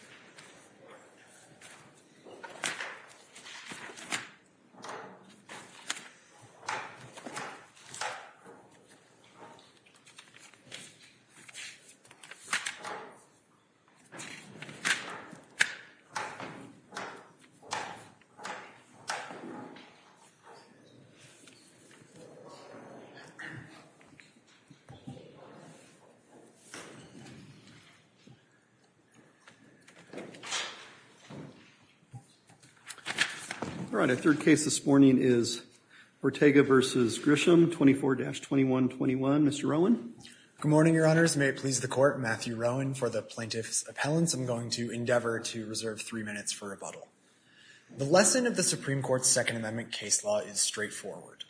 is the founder and president of the Lujan Grisham Foundation, and he's going to talk a little bit about the Lujan Grisham Foundation. All right, our third case this morning is Ortega v. Grisham, 24-2121. Mr. Rowan? Good morning, Your Honors. May it please the Court, Matthew Rowan. For the plaintiff's appellants, I'm going to endeavor to reserve three minutes for rebuttal. The lesson of the Supreme Court's Second Amendment case law is straightforward.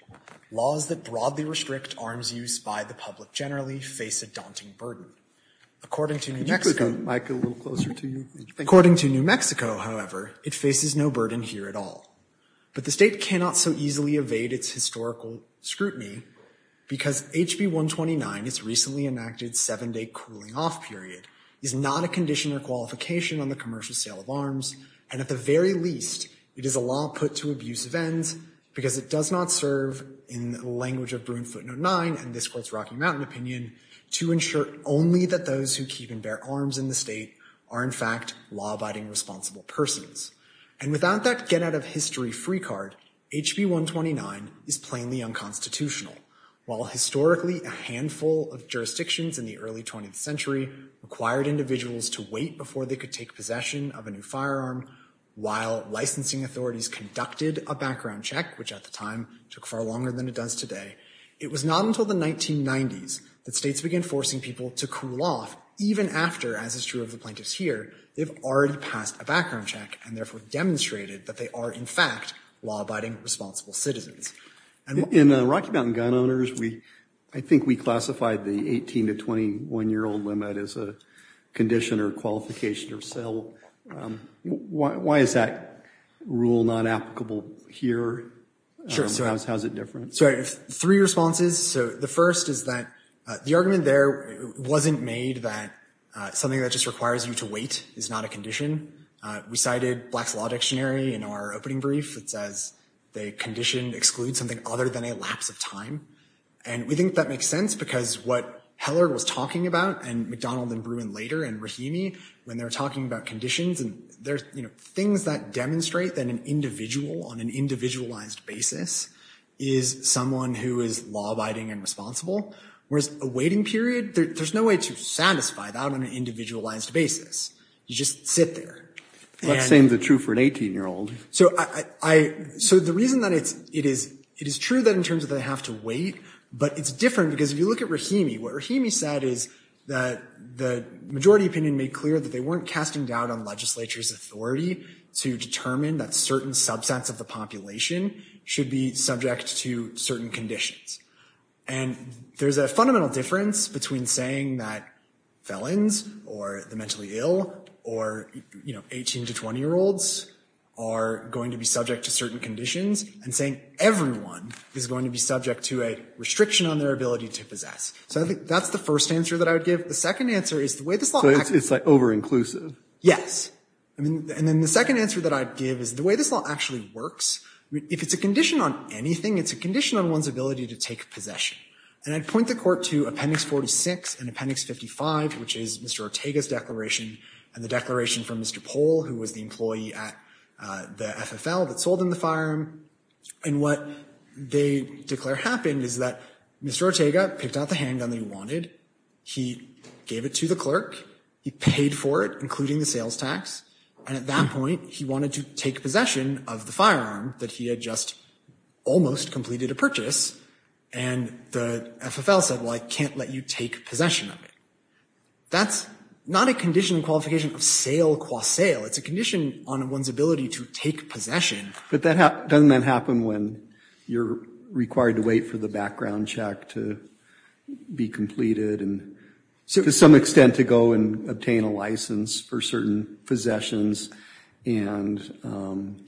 Laws that broadly restrict arms use by the public generally face a daunting burden. According to New Mexico, however, it faces no burden here at all. But the state cannot so easily evade its historical scrutiny because HB 129, its recently enacted seven-day cooling-off period, is not a condition or qualification on the commercial sale of arms, and at the very least, it is a law put to abusive ends because it does not serve, in the language of Bruin Footnote 9, and this Court's Rocky Mountain opinion, to ensure only that those who keep and bear arms in the state are in fact law-abiding responsible persons. And without that get-out-of-history free card, HB 129 is plainly unconstitutional. While historically a handful of jurisdictions in the early 20th century required individuals to wait before they could take possession of a new firearm, while licensing authorities conducted a background check, which at the time took far longer than it does today, it was not until the 1990s that states began forcing people to cool off even after, as is true of the plaintiffs here, they've already passed a background check and therefore demonstrated that they are in fact law-abiding responsible citizens. In Rocky Mountain gun owners, I think we classified the 18- to 21-year-old limit as a condition or qualification or sale. Why is that rule not applicable here? How is it different? Three responses. The first is that the argument there wasn't made that something that just requires you to wait is not a condition. We cited Black's Law Dictionary in our opening brief that says the condition excludes something other than a lapse of time. And we think that makes sense because what Heller was talking about and McDonald and Bruin later and Rahimi, when they're talking about conditions, things that demonstrate that an individual on an individualized basis is someone who is law-abiding and responsible, whereas a waiting period, there's no way to satisfy that on an individualized basis. You just sit there. That same is true for an 18-year-old. So the reason that it is true that in terms of they have to wait, but it's different because if you look at Rahimi, what Rahimi said is that the majority opinion made clear that they weren't casting doubt on legislature's authority to determine that certain subsets of the population should be subject to certain conditions. And there's a fundamental difference between saying that felons or the mentally ill or 18- to 20-year-olds are going to be subject to certain conditions and saying everyone is going to be subject to a restriction on their ability to possess. So I think that's the first answer that I would give. So it's like over-inclusive? Yes. And then the second answer that I'd give is the way this law actually works, if it's a condition on anything, it's a condition on one's ability to take possession. And I'd point the court to Appendix 46 and Appendix 55, which is Mr. Ortega's declaration and the declaration from Mr. Pohl, who was the employee at the FFL that sold him the firearm. And what they declare happened is that Mr. Ortega picked out the handgun that he wanted. He gave it to the clerk. He paid for it, including the sales tax. And at that point, he wanted to take possession of the firearm that he had just almost completed a purchase. And the FFL said, well, I can't let you take possession of it. That's not a condition in qualification of sale qua sale. It's a condition on one's ability to take possession. But doesn't that happen when you're required to wait for the background check to be completed and to some extent to go and obtain a license for certain possessions and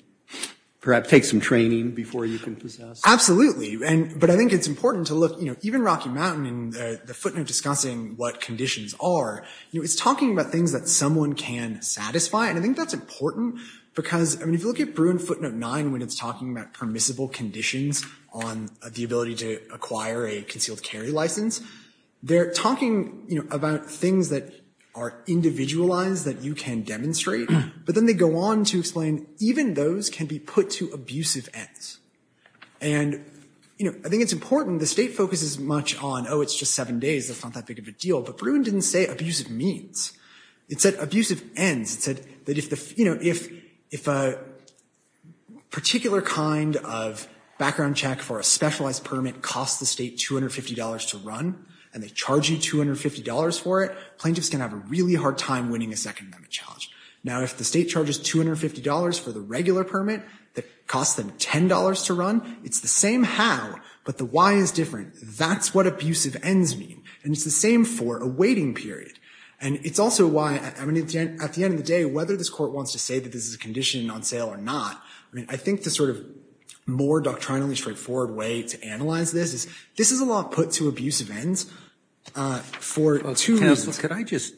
perhaps take some training before you can possess? Absolutely. But I think it's important to look, even Rocky Mountain and the footnote discussing what conditions are, it's talking about things that someone can satisfy. And I think that's important because if you look at Bruin footnote 9 when it's talking about permissible conditions on the ability to acquire a concealed carry license, they're talking about things that are individualized that you can demonstrate. But then they go on to explain even those can be put to abusive ends. And I think it's important. The state focuses much on, oh, it's just seven days. That's not that big of a deal. But Bruin didn't say abusive means. It said abusive ends. It said that if a particular kind of background check for a specialized permit costs the state $250 to run and they charge you $250 for it, plaintiffs can have a really hard time winning a second amendment challenge. Now, if the state charges $250 for the regular permit that costs them $10 to run, it's the same how, but the why is different. That's what abusive ends mean. And it's the same for a waiting period. And it's also why, at the end of the day, whether this court wants to say that this is a condition on sale or not, I mean, I think the sort of more doctrinally straightforward way to analyze this is this is a law put to abusive ends for two reasons. Well, counsel, could I just,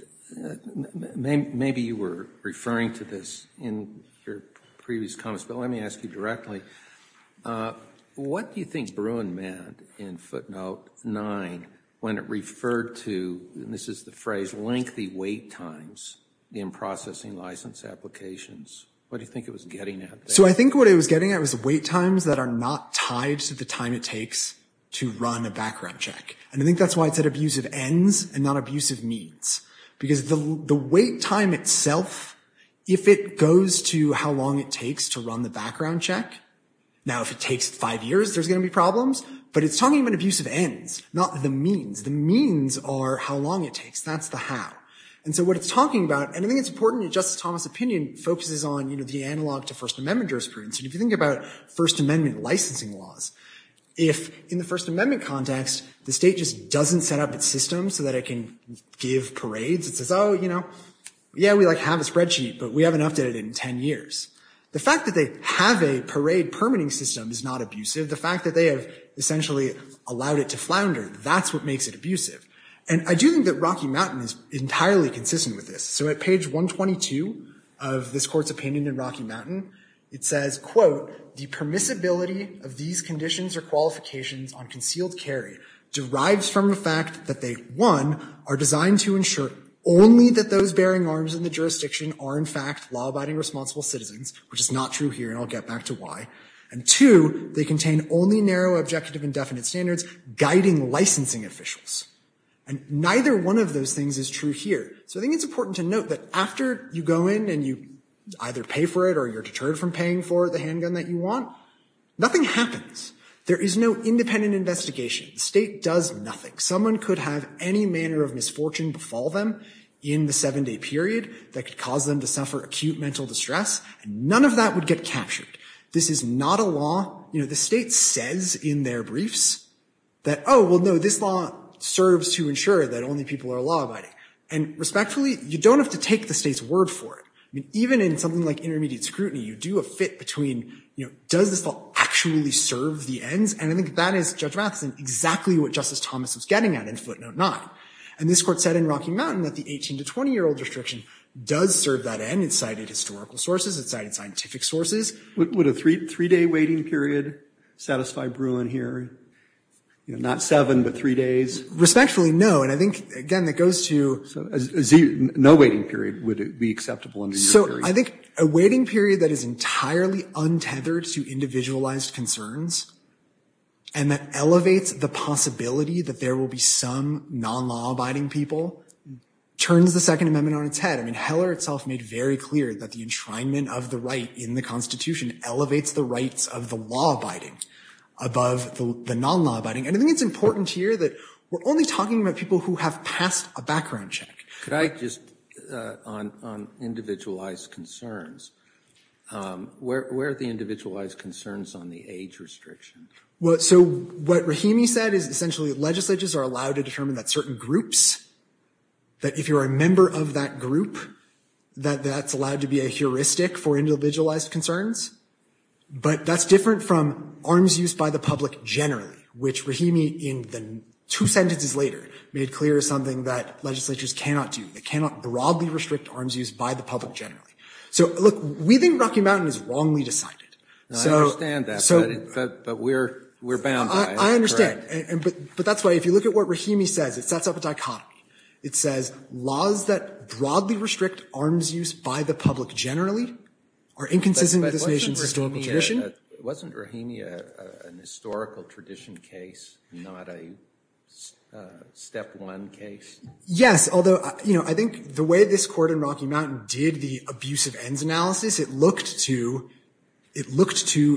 maybe you were referring to this in your previous comments, but let me ask you directly. What do you think Bruin meant in footnote 9 when it referred to, and this is the phrase, lengthy wait times in processing license applications? What do you think it was getting at there? So I think what it was getting at was wait times that are not tied to the time it takes to run a background check. And I think that's why it said abusive ends and not abusive means. Because the wait time itself, if it goes to how long it takes to run the background check, now if it takes five years, there's going to be problems. But it's talking about abusive ends, not the means. The means are how long it takes. That's the how. And so what it's talking about, and I think it's important that Justice Thomas' opinion focuses on the analog to First Amendment jurisprudence. And if you think about First Amendment licensing laws, if in the First Amendment context the state just doesn't set up its system so that it can give parades, it says, oh, yeah, we have a spreadsheet, but we haven't updated it in 10 years. The fact that they have a parade permitting system is not abusive. The fact that they have essentially allowed it to flounder, that's what makes it abusive. And I do think that Rocky Mountain is entirely consistent with this. So at page 122 of this Court's opinion in Rocky Mountain, it says, quote, the permissibility of these conditions or qualifications on concealed carry derives from the fact that they, one, are designed to ensure only that those bearing arms in the jurisdiction are, in fact, law-abiding responsible citizens, which is not true here. And I'll get back to why. And two, they contain only narrow, objective, and definite standards guiding licensing officials. And neither one of those things is true here. So I think it's important to note that after you go in and you either pay for it or you're deterred from paying for the handgun that you want, nothing happens. There is no independent investigation. The state does nothing. Someone could have any manner of misfortune befall them in the seven-day period that could cause them to suffer acute mental distress, and none of that would get captured. This is not a law. You know, the state says in their briefs that, oh, well, no, this law serves to ensure that only people are law-abiding. And respectfully, you don't have to take the state's word for it. I mean, even in something like intermediate scrutiny, you do a fit between, you know, does this law actually serve the ends? And I think that is, Judge Matheson, exactly what Justice Thomas was getting at in footnote 9. And this court said in Rocky Mountain that the 18- to 20-year-old restriction does serve that end. It cited historical sources. It cited scientific sources. Would a three-day waiting period satisfy Bruin here? You know, not seven, but three days? Respectfully, no. And I think, again, that goes to you. So no waiting period. Would it be acceptable under your theory? So I think a waiting period that is entirely untethered to individualized concerns and that elevates the possibility that there will be some non-law-abiding people turns the Second Amendment on its head. I mean, Heller itself made very clear that the enshrinement of the right in the Constitution elevates the rights of the law-abiding above the non-law-abiding. And I think it's important to hear that we're only talking about people who have passed a background check. Could I just, on individualized concerns, where are the individualized concerns on the age restriction? So what Rahimi said is essentially legislatures are allowed to determine that certain groups, that if you're a member of that group, that that's allowed to be a heuristic for individualized concerns. But that's different from arms use by the public generally, which Rahimi in the two sentences later made clear is something that legislatures cannot do. They cannot broadly restrict arms use by the public generally. So look, we think Rocky Mountain is wrongly decided. I understand that. But we're bound by it. I understand. But that's why, if you look at what Rahimi says, it sets up a dichotomy. It says laws that broadly restrict arms use by the public generally are inconsistent with this nation's historical tradition. But wasn't Rahimi an historical tradition case, not a step one case? Yes, although I think the way this Court in Rocky Mountain did the abusive ends analysis, it looked to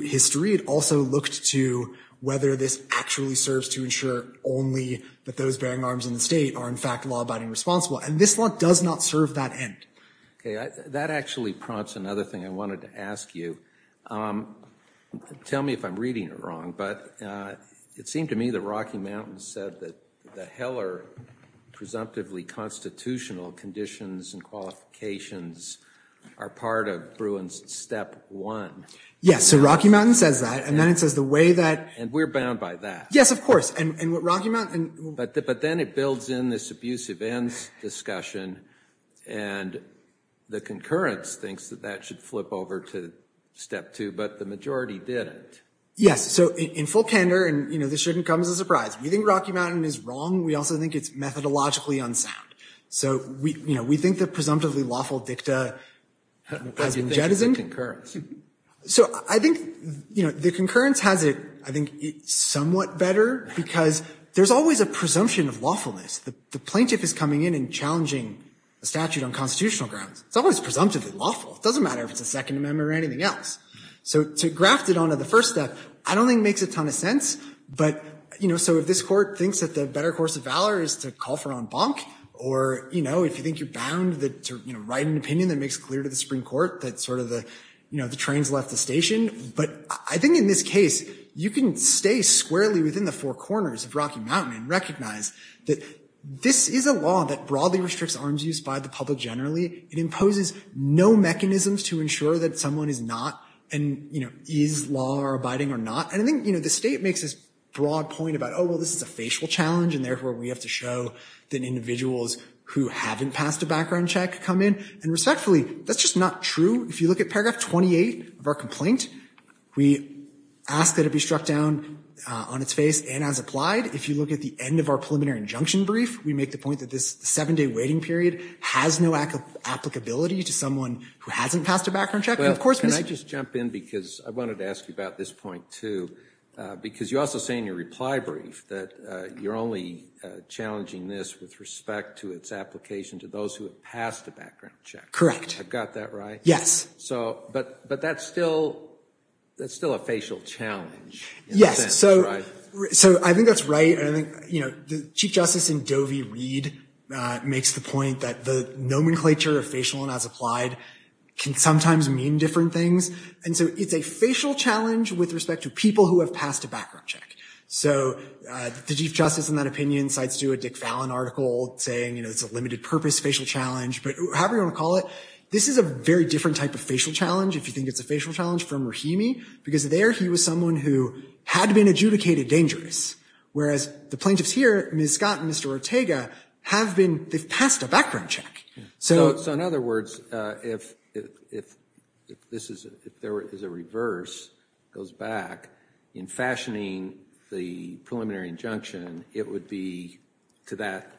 history. It also looked to whether this actually serves to ensure only that those bearing arms in the State are, in fact, law-abiding responsible. And this law does not serve that end. OK, that actually prompts another thing I wanted to ask you. Tell me if I'm reading it wrong. But it seemed to me that Rocky Mountain said that the Heller presumptively constitutional conditions and qualifications are part of Bruin's step one. Yes, so Rocky Mountain says that. And then it says the way that. And we're bound by that. Yes, of course. But then it builds in this abusive ends discussion. And the concurrence thinks that that should flip over to step two. But the majority didn't. Yes, so in full candor, and this shouldn't come as a surprise, we think Rocky Mountain is wrong. We also think it's methodologically unsound. So we think the presumptively lawful dicta has been jettisoned. So I think the concurrence has it, I think, somewhat better. Because there's always a presumption of lawfulness. The plaintiff is coming in and challenging a statute on constitutional grounds. It's always presumptively lawful. It doesn't matter if it's a Second Amendment or anything else. So to graft it onto the first step, I don't think it makes a ton of sense. So if this court thinks that the better course of valor is to call for en banc, or if you think you're bound to write an opinion that makes clear to the Supreme Court that the train's left the station. But I think in this case, you can stay squarely within the four corners of Rocky Mountain and recognize that this is a law that broadly restricts arms use by the public generally. It imposes no mechanisms to ensure that someone is not and is law-abiding or not. And I think the state makes this broad point about, oh, well, this is a facial challenge. And therefore, we have to show that individuals who haven't passed a background check come in. And respectfully, that's just not true. If you look at paragraph 28 of our complaint, we ask that it be struck down on its face and as applied. If you look at the end of our preliminary injunction brief, we make the point that this seven-day waiting period has no applicability to someone who hasn't passed a background check. Well, can I just jump in? Because I wanted to ask you about this point, too. Because you also say in your reply brief that you're only challenging this with respect to its application to those who have passed a background check. Correct. I've got that right. Yes. But that's still a facial challenge in a sense, right? So I think that's right. And I think the Chief Justice in Dovey-Reed makes the point that the nomenclature of facial and as applied can sometimes mean different things. And so it's a facial challenge with respect to people who have passed a background check. So the Chief Justice, in that opinion, cites, too, a Dick Fallon article saying it's a limited-purpose facial challenge. But however you want to call it, this is a very different type of facial challenge, if you think it's a facial challenge, from Rahimi. Because there, he was someone who had been adjudicated dangerous, whereas the plaintiffs here, Ms. Scott and Mr. Ortega, have been they've passed a background check. So in other words, if there is a reverse, goes back, in fashioning the preliminary injunction, it would be to that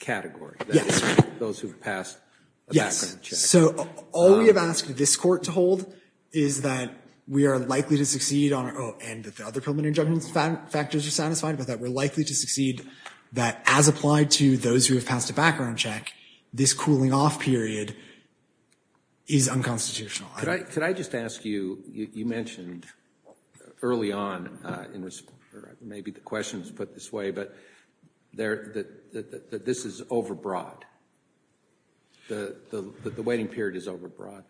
category. Yes. Those who have passed a background check. So all we have asked this court to hold is that we are likely to succeed on our own, and that the other preliminary injunction factors are satisfied, but that we're likely to succeed, that as applied to those who have passed a background check, this cooling off period is unconstitutional. Could I just ask you, you mentioned early on in response, or maybe the question was put this way, but that this is overbroad. The waiting period is overbroad.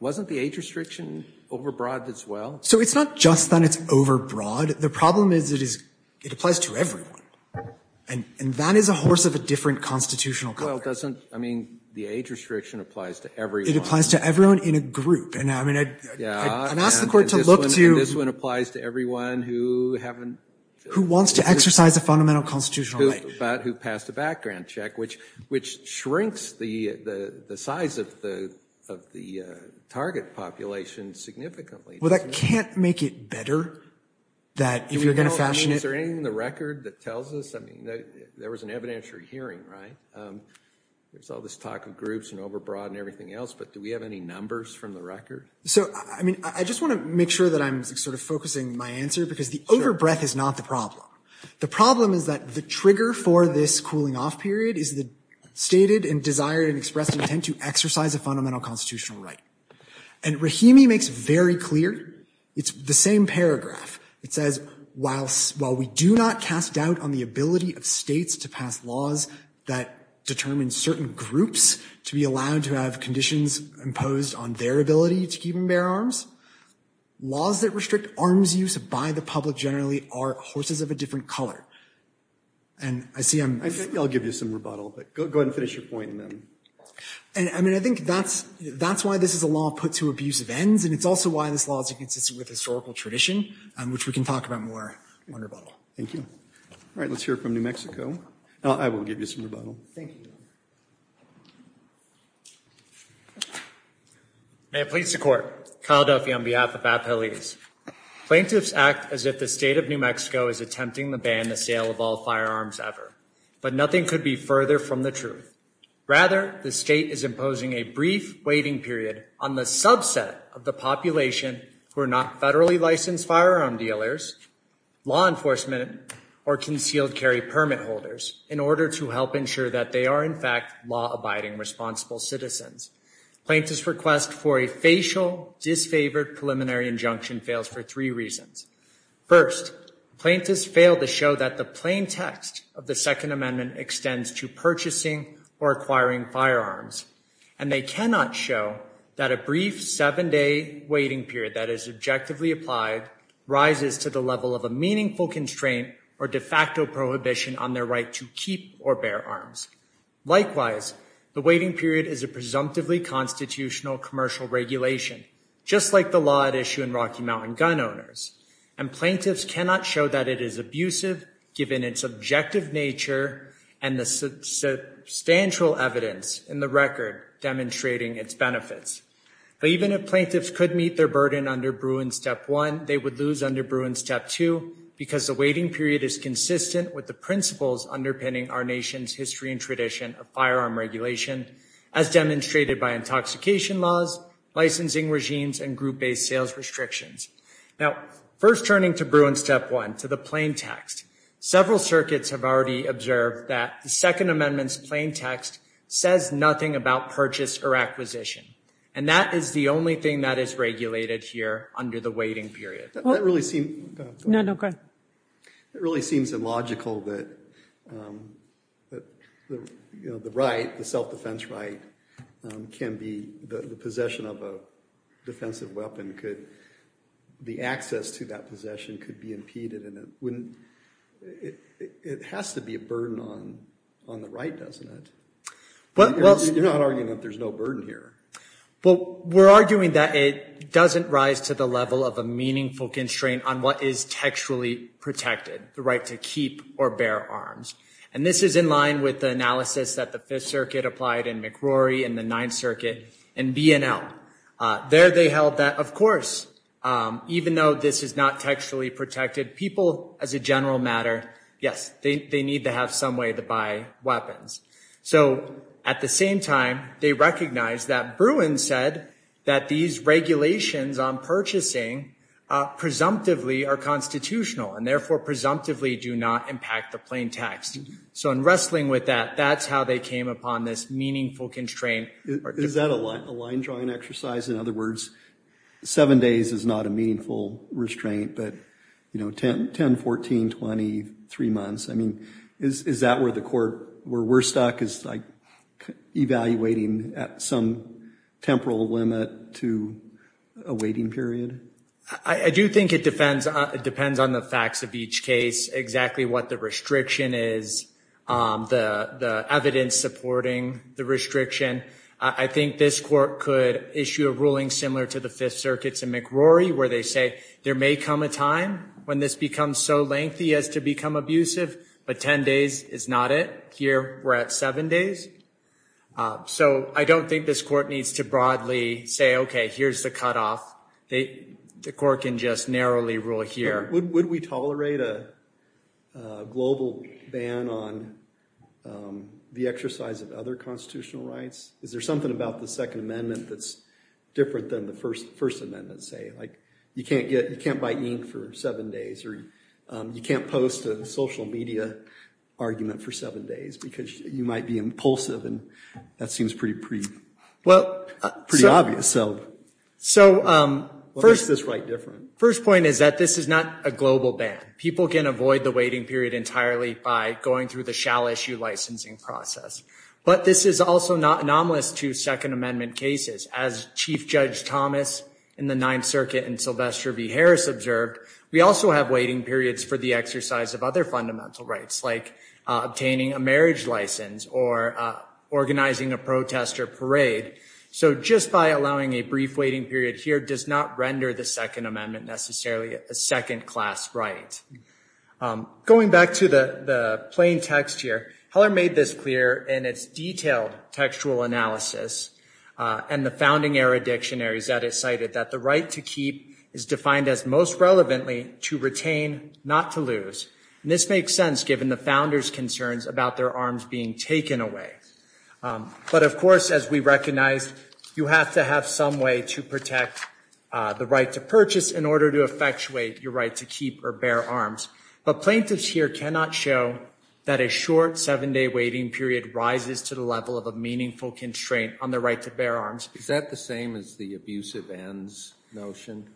Wasn't the age restriction overbroad as well? So it's not just that it's overbroad. The problem is, it applies to everyone. And that is a horse of a different constitutional code. Well, doesn't, I mean, the age restriction applies to everyone. It applies to everyone in a group. And I mean, I'd ask the court to look to. And this one applies to everyone who haven't. Who wants to exercise a fundamental constitutional right. But who passed a background check, which shrinks the size of the target population significantly. Well, that can't make it better that if you're going to fashion it. I mean, is there anything in the record that tells us? I mean, there was an evidentiary hearing, right? There's all this talk of groups and overbroad and everything else, but do we have any numbers from the record? So, I mean, I just want to make sure that I'm sort of focusing my answer, because the overbreath is not the problem. The problem is that the trigger for this cooling off period is the stated and desired and expressed intent to exercise a fundamental constitutional right. And Rahimi makes very clear. It's the same paragraph. It says, while we do not cast doubt on the ability of states to pass laws that determine certain groups to be allowed to have conditions imposed on their ability to keep and bear arms, laws that restrict arms use by the public generally are horses of a different color. And I see I'm... I think I'll give you some rebuttal, but go ahead and finish your point, and then... And, I mean, I think that's why this is a law put to abusive ends, and it's also why this law is inconsistent with historical tradition, which we can talk about more on rebuttal. Thank you. All right, let's hear from New Mexico. I will give you some rebuttal. Thank you. May it please the Court. Kyle Duffy on behalf of APELIS. Plaintiffs act as if the state of New Mexico is attempting to ban the sale of all firearms ever. But nothing could be further from the truth. Rather, the state is imposing a brief waiting period on the subset of the population who are not federally licensed firearm dealers, law enforcement, or concealed carry permit holders in order to help ensure that they are not subject or, in fact, law-abiding responsible citizens. Plaintiff's request for a facial, disfavored preliminary injunction fails for three reasons. First, plaintiffs fail to show that the plain text of the Second Amendment extends to purchasing or acquiring firearms, and they cannot show that a brief seven-day waiting period that is objectively applied rises to the level of a meaningful constraint or de facto prohibition on their right to keep or bear arms. Likewise, the waiting period is a presumptively constitutional commercial regulation, just like the law at issue in Rocky Mountain Gun Owners, and plaintiffs cannot show that it is abusive given its objective nature and the substantial evidence in the record demonstrating its benefits. But even if plaintiffs could meet their burden under Bruin Step 1, they would lose under Bruin Step 2 because the waiting period is consistent with the principles underpinning our nation's history and tradition of firearm regulation, as demonstrated by intoxication laws, licensing regimes, and group-based sales restrictions. Now, first turning to Bruin Step 1, to the plain text, several circuits have already observed that the Second Amendment's plain text says nothing about purchase or acquisition, and that is the only thing that is regulated here under the waiting period. No, no, go ahead. It really seems illogical that the right, the self-defense right, can be the possession of a defensive weapon. The access to that possession could be impeded. It has to be a burden on the right, doesn't it? You're not arguing that there's no burden here. Well, we're arguing that it doesn't rise to the level of a meaningful constraint on what is textually protected, the right to keep or bear arms. And this is in line with the analysis that the Fifth Circuit applied in McRory and the Ninth Circuit and B&L. There they held that, of course, even though this is not textually protected, people, as a general matter, yes, they need to have some way to buy weapons. So at the same time, they recognized that Bruin said that these regulations on purchasing presumptively are constitutional and therefore presumptively do not impact the plain text. So in wrestling with that, that's how they came upon this meaningful constraint. Is that a line-drawing exercise? In other words, seven days is not a meaningful restraint, but, you know, 10, 14, 20, three months. I mean, is that where the court, where we're stuck, is, like, evaluating at some temporal limit to a waiting period? I do think it depends on the facts of each case, exactly what the restriction is, the evidence supporting the restriction. I think this court could issue a ruling similar to the Fifth Circuit's in McRory where they say there may come a time when this becomes so lengthy as to become abusive, but 10 days is not it. Here we're at seven days. So I don't think this court needs to broadly say, okay, here's the cutoff. The court can just narrowly rule here. Would we tolerate a global ban on the exercise of other constitutional rights? Is there something about the Second Amendment that's different than the First Amendment? Let's say, like, you can't buy ink for seven days or you can't post a social media argument for seven days because you might be impulsive, and that seems pretty obvious. So what makes this right different? First point is that this is not a global ban. People can avoid the waiting period entirely by going through the shall-issue licensing process. But this is also not anomalous to Second Amendment cases. As Chief Judge Thomas in the Ninth Circuit and Sylvester B. Harris observed, we also have waiting periods for the exercise of other fundamental rights, like obtaining a marriage license or organizing a protest or parade. So just by allowing a brief waiting period here does not render the Second Amendment necessarily a second-class right. Going back to the plain text here, Heller made this clear in its detailed textual analysis and the founding-era dictionaries that it cited, that the right to keep is defined as most relevantly to retain, not to lose. And this makes sense given the founders' concerns about their arms being taken away. But, of course, as we recognized, you have to have some way to protect the right to purchase in order to effectuate your right to keep or bear arms. But plaintiffs here cannot show that a short seven-day waiting period rises to the level of a meaningful constraint on the right to bear arms. Is that the same as the abusive ends notion?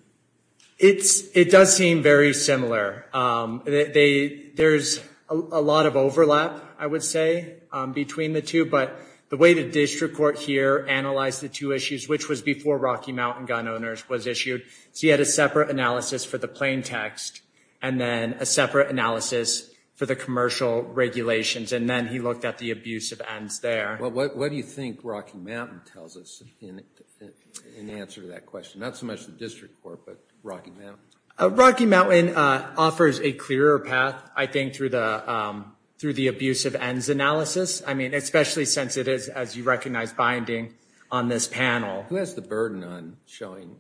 It does seem very similar. There's a lot of overlap, I would say, between the two. But the way the district court here analyzed the two issues, which was before Rocky Mountain Gun Owners was issued, he had a separate analysis for the plain text and then a separate analysis for the commercial regulations, and then he looked at the abusive ends there. What do you think Rocky Mountain tells us in answer to that question? Not so much the district court, but Rocky Mountain. Rocky Mountain offers a clearer path, I think, through the abusive ends analysis, especially since it is, as you recognize, binding on this panel. Who has the burden on showing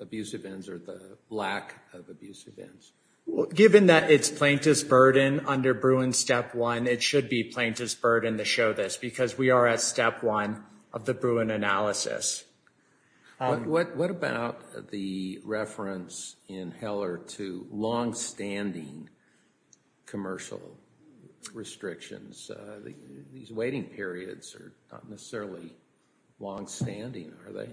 abusive ends or the lack of abusive ends? Given that it's plaintiff's burden under Bruin Step 1, it should be plaintiff's burden to show this because we are at Step 1 of the Bruin analysis. What about the reference in Heller to longstanding commercial restrictions? These waiting periods are not necessarily longstanding, are they?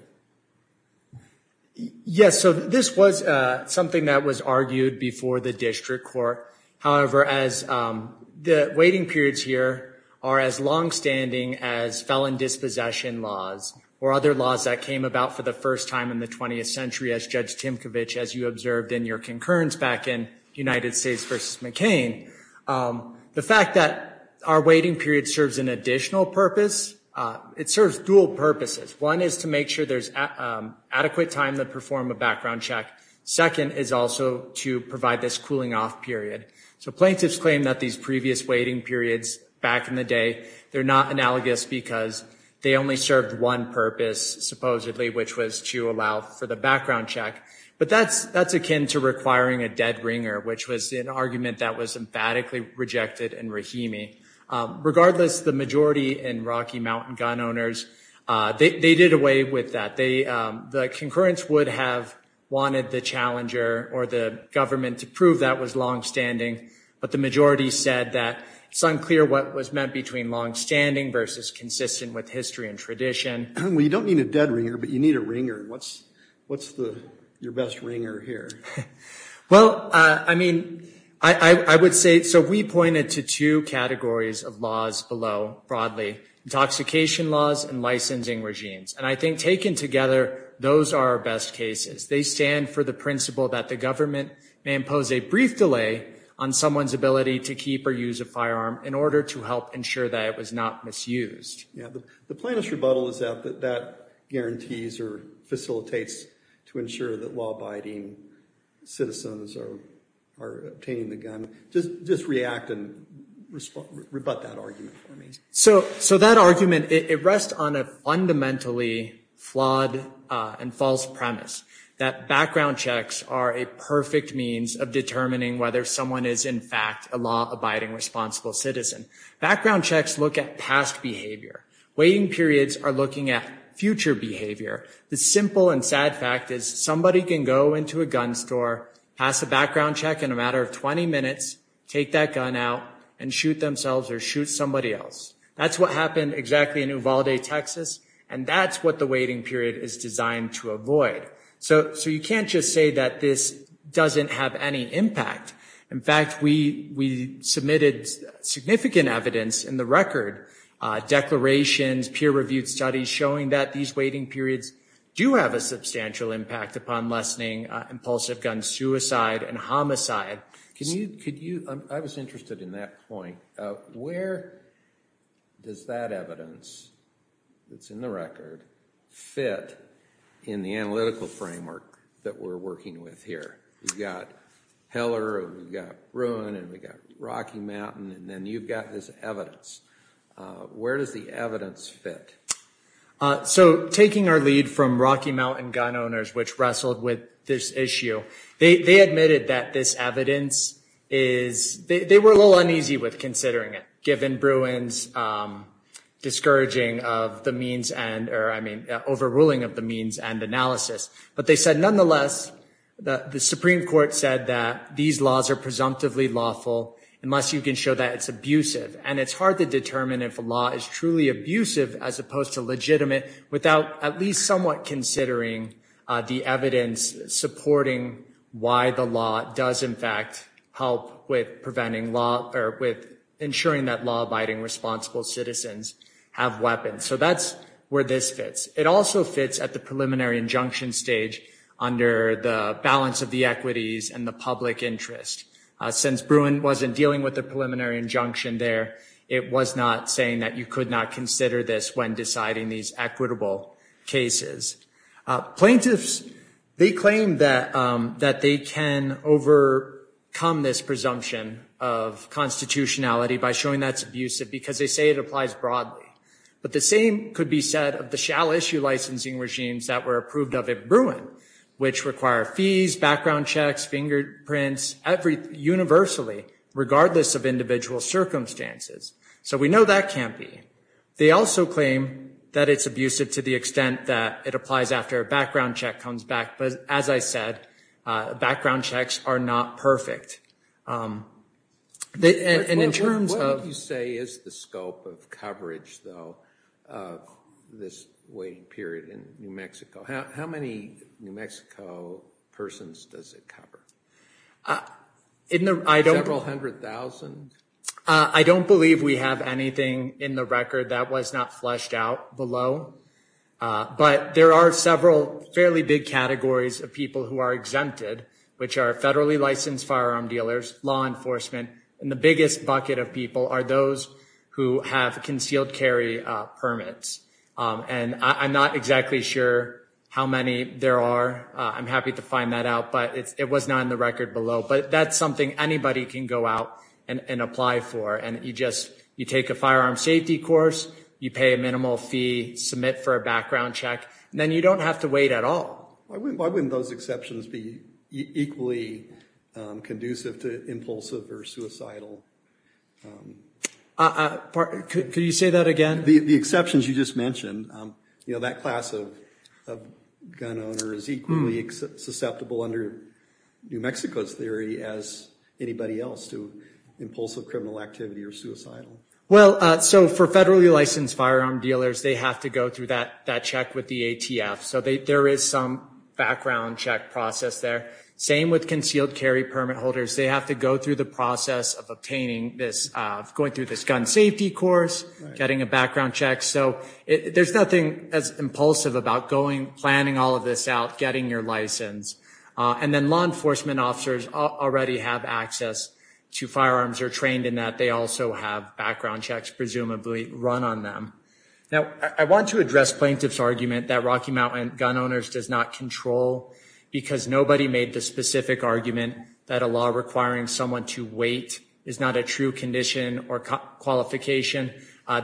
Yes, so this was something that was argued before the district court. However, the waiting periods here are as longstanding as felon dispossession laws or other laws that came about for the first time in the 20th century, as Judge Timkovich, as you observed in your concurrence back in United States v. McCain. The fact that our waiting period serves an additional purpose, it serves dual purposes. One is to make sure there's adequate time to perform a background check. Second is also to provide this cooling off period. So plaintiffs claim that these previous waiting periods back in the day, they're not analogous because they only served one purpose, supposedly, which was to allow for the background check. But that's akin to requiring a dead ringer, which was an argument that was emphatically rejected in Rahimi. Regardless, the majority in Rocky Mountain gun owners, they did away with that. The concurrence would have wanted the challenger or the government to prove that was longstanding, but the majority said that it's unclear what was meant between longstanding versus consistent with history and tradition. Well, you don't need a dead ringer, but you need a ringer. What's your best ringer here? Well, I mean, I would say, so we pointed to two categories of laws below broadly, intoxication laws and licensing regimes. And I think taken together, those are our best cases. They stand for the principle that the government may impose a brief delay on someone's ability to keep or use a firearm in order to help ensure that it was not misused. Yeah, but the plaintiff's rebuttal is that that guarantees or facilitates to ensure that law-abiding citizens are obtaining the gun. Just react and rebut that argument for me. So that argument, it rests on a fundamentally flawed and false premise, that background checks are a perfect means of determining whether someone is, in fact, a law-abiding responsible citizen. Background checks look at past behavior. Waiting periods are looking at future behavior. The simple and sad fact is somebody can go into a gun store, pass a background check in a matter of 20 minutes, take that gun out and shoot themselves or shoot somebody else. That's what happened exactly in Uvalde, Texas, and that's what the waiting period is designed to avoid. So you can't just say that this doesn't have any impact. In fact, we submitted significant evidence in the record, declarations, peer-reviewed studies showing that these waiting periods do have a substantial impact upon lessening impulsive gun suicide and homicide. I was interested in that point. Where does that evidence that's in the record fit in the analytical framework that we're working with here? We've got Heller and we've got Bruin and we've got Rocky Mountain and then you've got this evidence. Where does the evidence fit? So taking our lead from Rocky Mountain gun owners, which wrestled with this issue, they admitted that this evidence is – they were a little uneasy with considering it, given Bruin's discouraging of the means and – or, I mean, overruling of the means and analysis. But they said, nonetheless, the Supreme Court said that these laws are presumptively lawful unless you can show that it's abusive. And it's hard to determine if a law is truly abusive as opposed to legitimate without at least somewhat considering the evidence supporting why the law does, in fact, help with preventing law – or with ensuring that law-abiding, responsible citizens have weapons. So that's where this fits. It also fits at the preliminary injunction stage under the balance of the equities and the public interest. Since Bruin wasn't dealing with the preliminary injunction there, it was not saying that you could not consider this when deciding these equitable cases. Plaintiffs, they claim that they can overcome this presumption of constitutionality by showing that it's abusive because they say it applies broadly. But the same could be said of the shall-issue licensing regimes that were approved of at Bruin, which require fees, background checks, fingerprints, universally, regardless of individual circumstances. So we know that can't be. They also claim that it's abusive to the extent that it applies after a background check comes back. But, as I said, background checks are not perfect. What would you say is the scope of coverage, though, of this waiting period in New Mexico? How many New Mexico persons does it cover? Several hundred thousand? I don't believe we have anything in the record that was not fleshed out below. But there are several fairly big categories of people who are exempted, which are federally licensed firearm dealers, law enforcement, and the biggest bucket of people are those who have concealed carry permits. And I'm not exactly sure how many there are. I'm happy to find that out, but it was not in the record below. But that's something anybody can go out and apply for. You take a firearm safety course, you pay a minimal fee, submit for a background check, and then you don't have to wait at all. Why wouldn't those exceptions be equally conducive to impulsive or suicidal? Could you say that again? The exceptions you just mentioned, that class of gun owner is equally susceptible under New Mexico's theory as anybody else to impulsive criminal activity or suicidal. Well, so for federally licensed firearm dealers, they have to go through that check with the ATF. So there is some background check process there. Same with concealed carry permit holders. They have to go through the process of going through this gun safety course, getting a background check. So there's nothing as impulsive about planning all of this out, getting your license. And then law enforcement officers already have access to firearms or trained in that. They also have background checks presumably run on them. Now, I want to address plaintiff's argument that Rocky Mountain Gun Owners does not control because nobody made the specific argument that a law requiring someone to wait is not a true condition or qualification.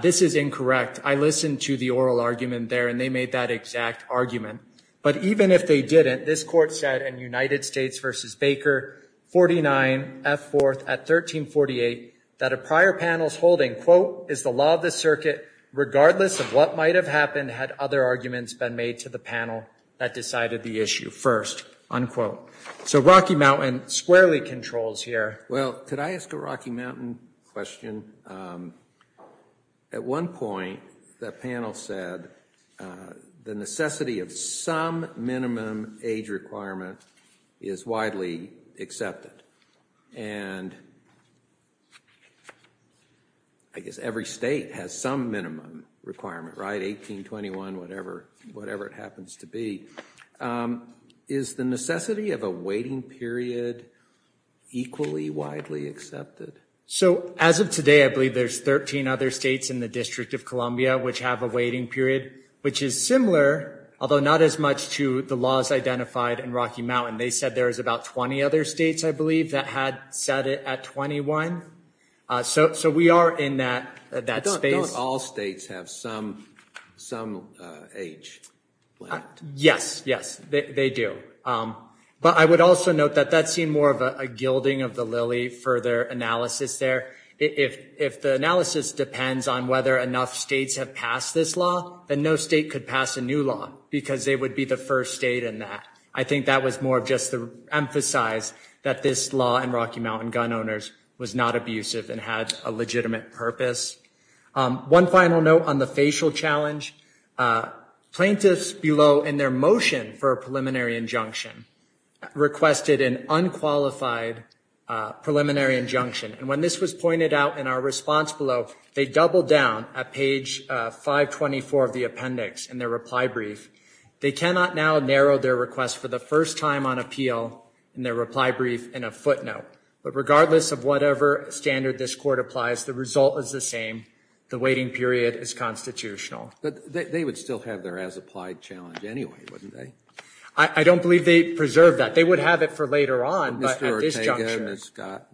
This is incorrect. I listened to the oral argument there, and they made that exact argument. But even if they didn't, this court said in United States v. Baker, 49 F. 4th at 1348, that a prior panel's holding, quote, is the law of the circuit regardless of what might have happened had other arguments been made to the panel that decided the issue first, unquote. So Rocky Mountain squarely controls here. Well, could I ask a Rocky Mountain question? At one point, that panel said the necessity of some minimum age requirement is widely accepted. And I guess every state has some minimum requirement, right? 18, 21, whatever it happens to be. Is the necessity of a waiting period equally widely accepted? So as of today, I believe there's 13 other states in the District of Columbia which have a waiting period, which is similar, although not as much, to the laws identified in Rocky Mountain. They said there was about 20 other states, I believe, that had set it at 21. So we are in that space. Don't all states have some age limit? Yes, yes, they do. But I would also note that that seemed more of a gilding of the lily for their analysis there. If the analysis depends on whether enough states have passed this law, then no state could pass a new law because they would be the first state in that. I think that was more just to emphasize that this law in Rocky Mountain gun owners was not abusive and had a legitimate purpose. One final note on the facial challenge. Plaintiffs below in their motion for a preliminary injunction requested an unqualified preliminary injunction. And when this was pointed out in our response below, they doubled down at page 524 of the appendix in their reply brief. They cannot now narrow their request for the first time on appeal in their reply brief in a footnote. But regardless of whatever standard this Court applies, the result is the same. The waiting period is constitutional. But they would still have their as-applied challenge anyway, wouldn't they? I don't believe they preserved that. They would have it for later on, but at this juncture. Mr. Ortega, Ms. Scott,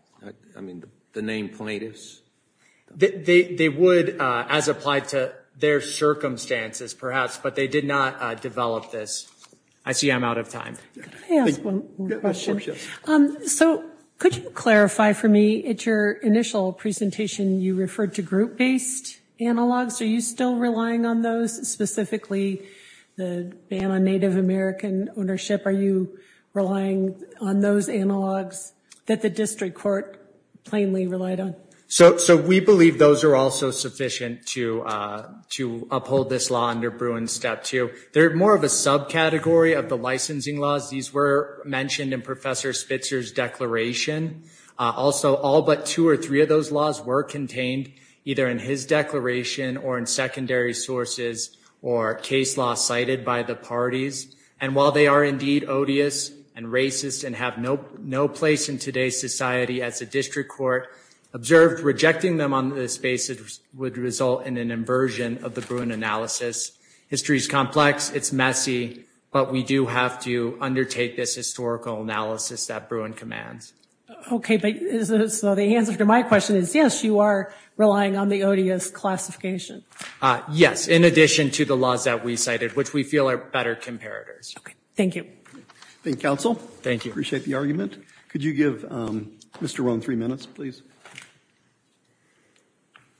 I mean, the name plaintiffs? They would as applied to their circumstances, perhaps, but they did not develop this. I see I'm out of time. Can I ask one more question? So could you clarify for me, at your initial presentation, you referred to group-based analogs. Are you still relying on those, specifically the ban on Native American ownership? Are you relying on those analogs that the district court plainly relied on? So we believe those are also sufficient to uphold this law under Bruin's Step 2. They're more of a subcategory of the licensing laws. These were mentioned in Professor Spitzer's declaration. Also, all but two or three of those laws were contained either in his declaration or in secondary sources or case law cited by the parties. And while they are indeed odious and racist and have no place in today's society as a district court, observed rejecting them on this basis would result in an inversion of the Bruin analysis. History is complex. It's messy. But we do have to undertake this historical analysis that Bruin commands. Okay. So the answer to my question is, yes, you are relying on the odious classification. Yes, in addition to the laws that we cited, which we feel are better comparators. Thank you. Thank you, counsel. Thank you. Appreciate the argument. Could you give Mr. Rohn three minutes, please?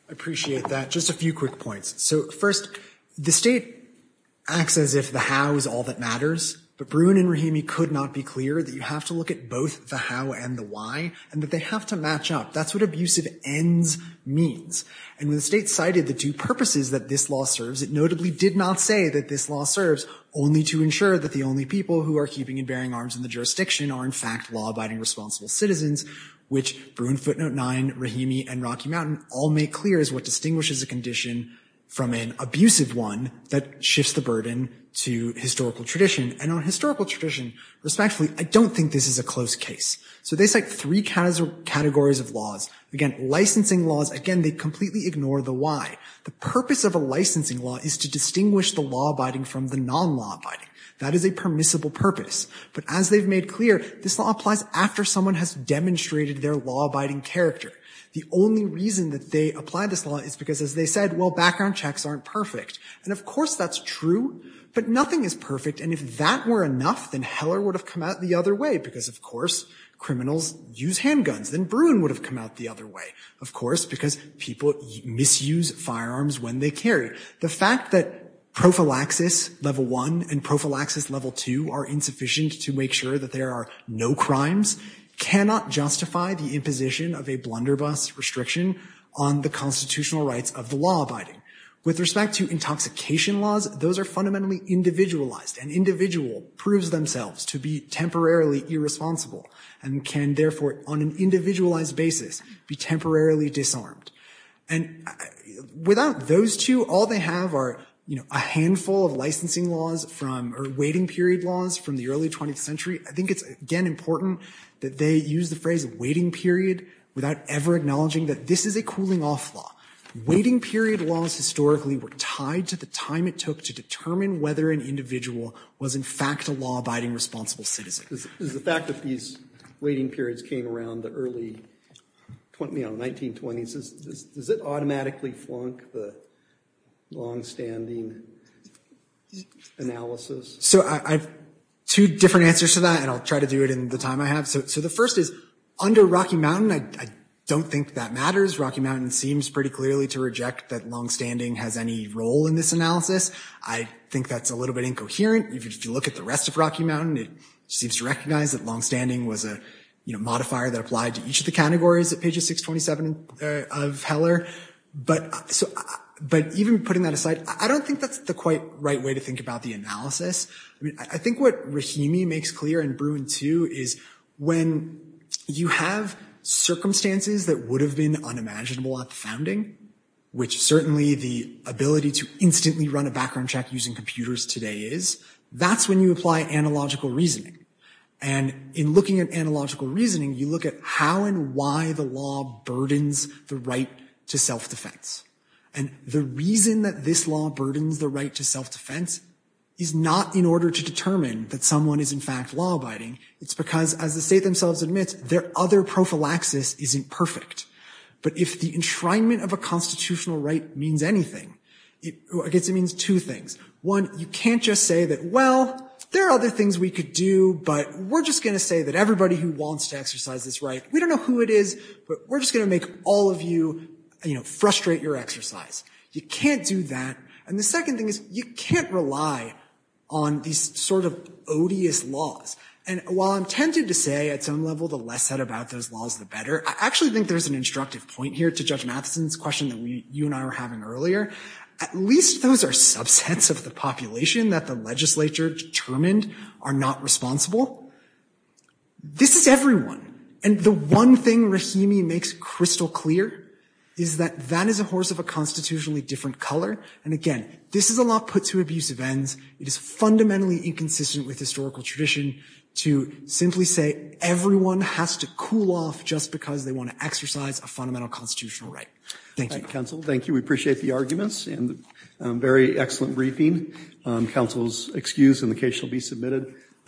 I appreciate that. Just a few quick points. So, first, the state acts as if the how is all that matters. But Bruin and Rahimi could not be clear that you have to look at both the how and the why and that they have to match up. That's what abusive ends means. And when the state cited the two purposes that this law serves, it notably did not say that this law serves only to ensure that the only people who are keeping and bearing arms in the jurisdiction are, in fact, law-abiding responsible citizens, which Bruin Footnote 9, Rahimi, and Rocky Mountain all make clear is what distinguishes a condition from an abusive one that shifts the burden to historical tradition. And on historical tradition, respectfully, I don't think this is a close case. So they cite three categories of laws. Again, licensing laws, again, they completely ignore the why. The purpose of a licensing law is to distinguish the law-abiding from the non-law-abiding. That is a permissible purpose. But as they've made clear, this law applies after someone has demonstrated their law-abiding character. The only reason that they apply this law is because, as they said, well, background checks aren't perfect. And, of course, that's true, but nothing is perfect. And if that were enough, then Heller would have come out the other way, because, of course, criminals use handguns. Then Bruin would have come out the other way, of course, because people misuse firearms when they carry. The fact that prophylaxis level 1 and prophylaxis level 2 are insufficient to make sure that there are no crimes cannot justify the imposition of a blunderbuss restriction on the constitutional rights of the law-abiding. With respect to intoxication laws, those are fundamentally individualized. An individual proves themselves to be temporarily irresponsible and can, therefore, on an individualized basis, be temporarily disarmed. And without those two, all they have are, you know, a handful of licensing laws from or waiting period laws from the early 20th century. I think it's, again, important that they use the phrase waiting period without ever acknowledging that this is a cooling-off law. Waiting period laws, historically, were tied to the time it took to determine whether an individual was, in fact, a law-abiding responsible citizen. Is the fact that these waiting periods came around the early, you know, 1920s, does it automatically flunk the longstanding analysis? So I have two different answers to that, and I'll try to do it in the time I have. So the first is, under Rocky Mountain, I don't think that matters. Rocky Mountain seems pretty clearly to reject that longstanding has any role in this analysis. I think that's a little bit incoherent. If you look at the rest of Rocky Mountain, it seems to recognize that longstanding was a, you know, modifier that applied to each of the categories at pages 627 of Heller. But even putting that aside, I don't think that's the quite right way to think about the analysis. I mean, I think what Rahimi makes clear and Bruin, too, is when you have circumstances that would have been unimaginable at the founding, which certainly the ability to instantly run a background check using computers today is, that's when you apply analogical reasoning. And in looking at analogical reasoning, you look at how and why the law burdens the right to self-defense. And the reason that this law burdens the right to self-defense is not in order to determine that someone is, in fact, law-abiding. It's because, as the state themselves admit, their other prophylaxis isn't perfect. But if the enshrinement of a constitutional right means anything, I guess it means two things. One, you can't just say that, well, there are other things we could do, but we're just going to say that everybody who wants to exercise this right, we don't know who it is, but we're just going to make all of you frustrate your exercise. You can't do that. And the second thing is, you can't rely on these sort of odious laws. And while I'm tempted to say, at some level, the less said about those laws, the better, I actually think there's an instructive point here to Judge Matheson's question that you and I were having earlier. At least those are subsets of the population that the legislature determined are not responsible. This is everyone. And the one thing Rahimi makes crystal clear is that that is a horse of a constitutionally different color. And again, this is a law put to abusive ends. It is fundamentally inconsistent with historical tradition to simply say everyone has to cool off just because they want to exercise a fundamental constitutional right. Thank you. Thank you. We appreciate the arguments and very excellent briefing. Counsel is excused and the case shall be submitted.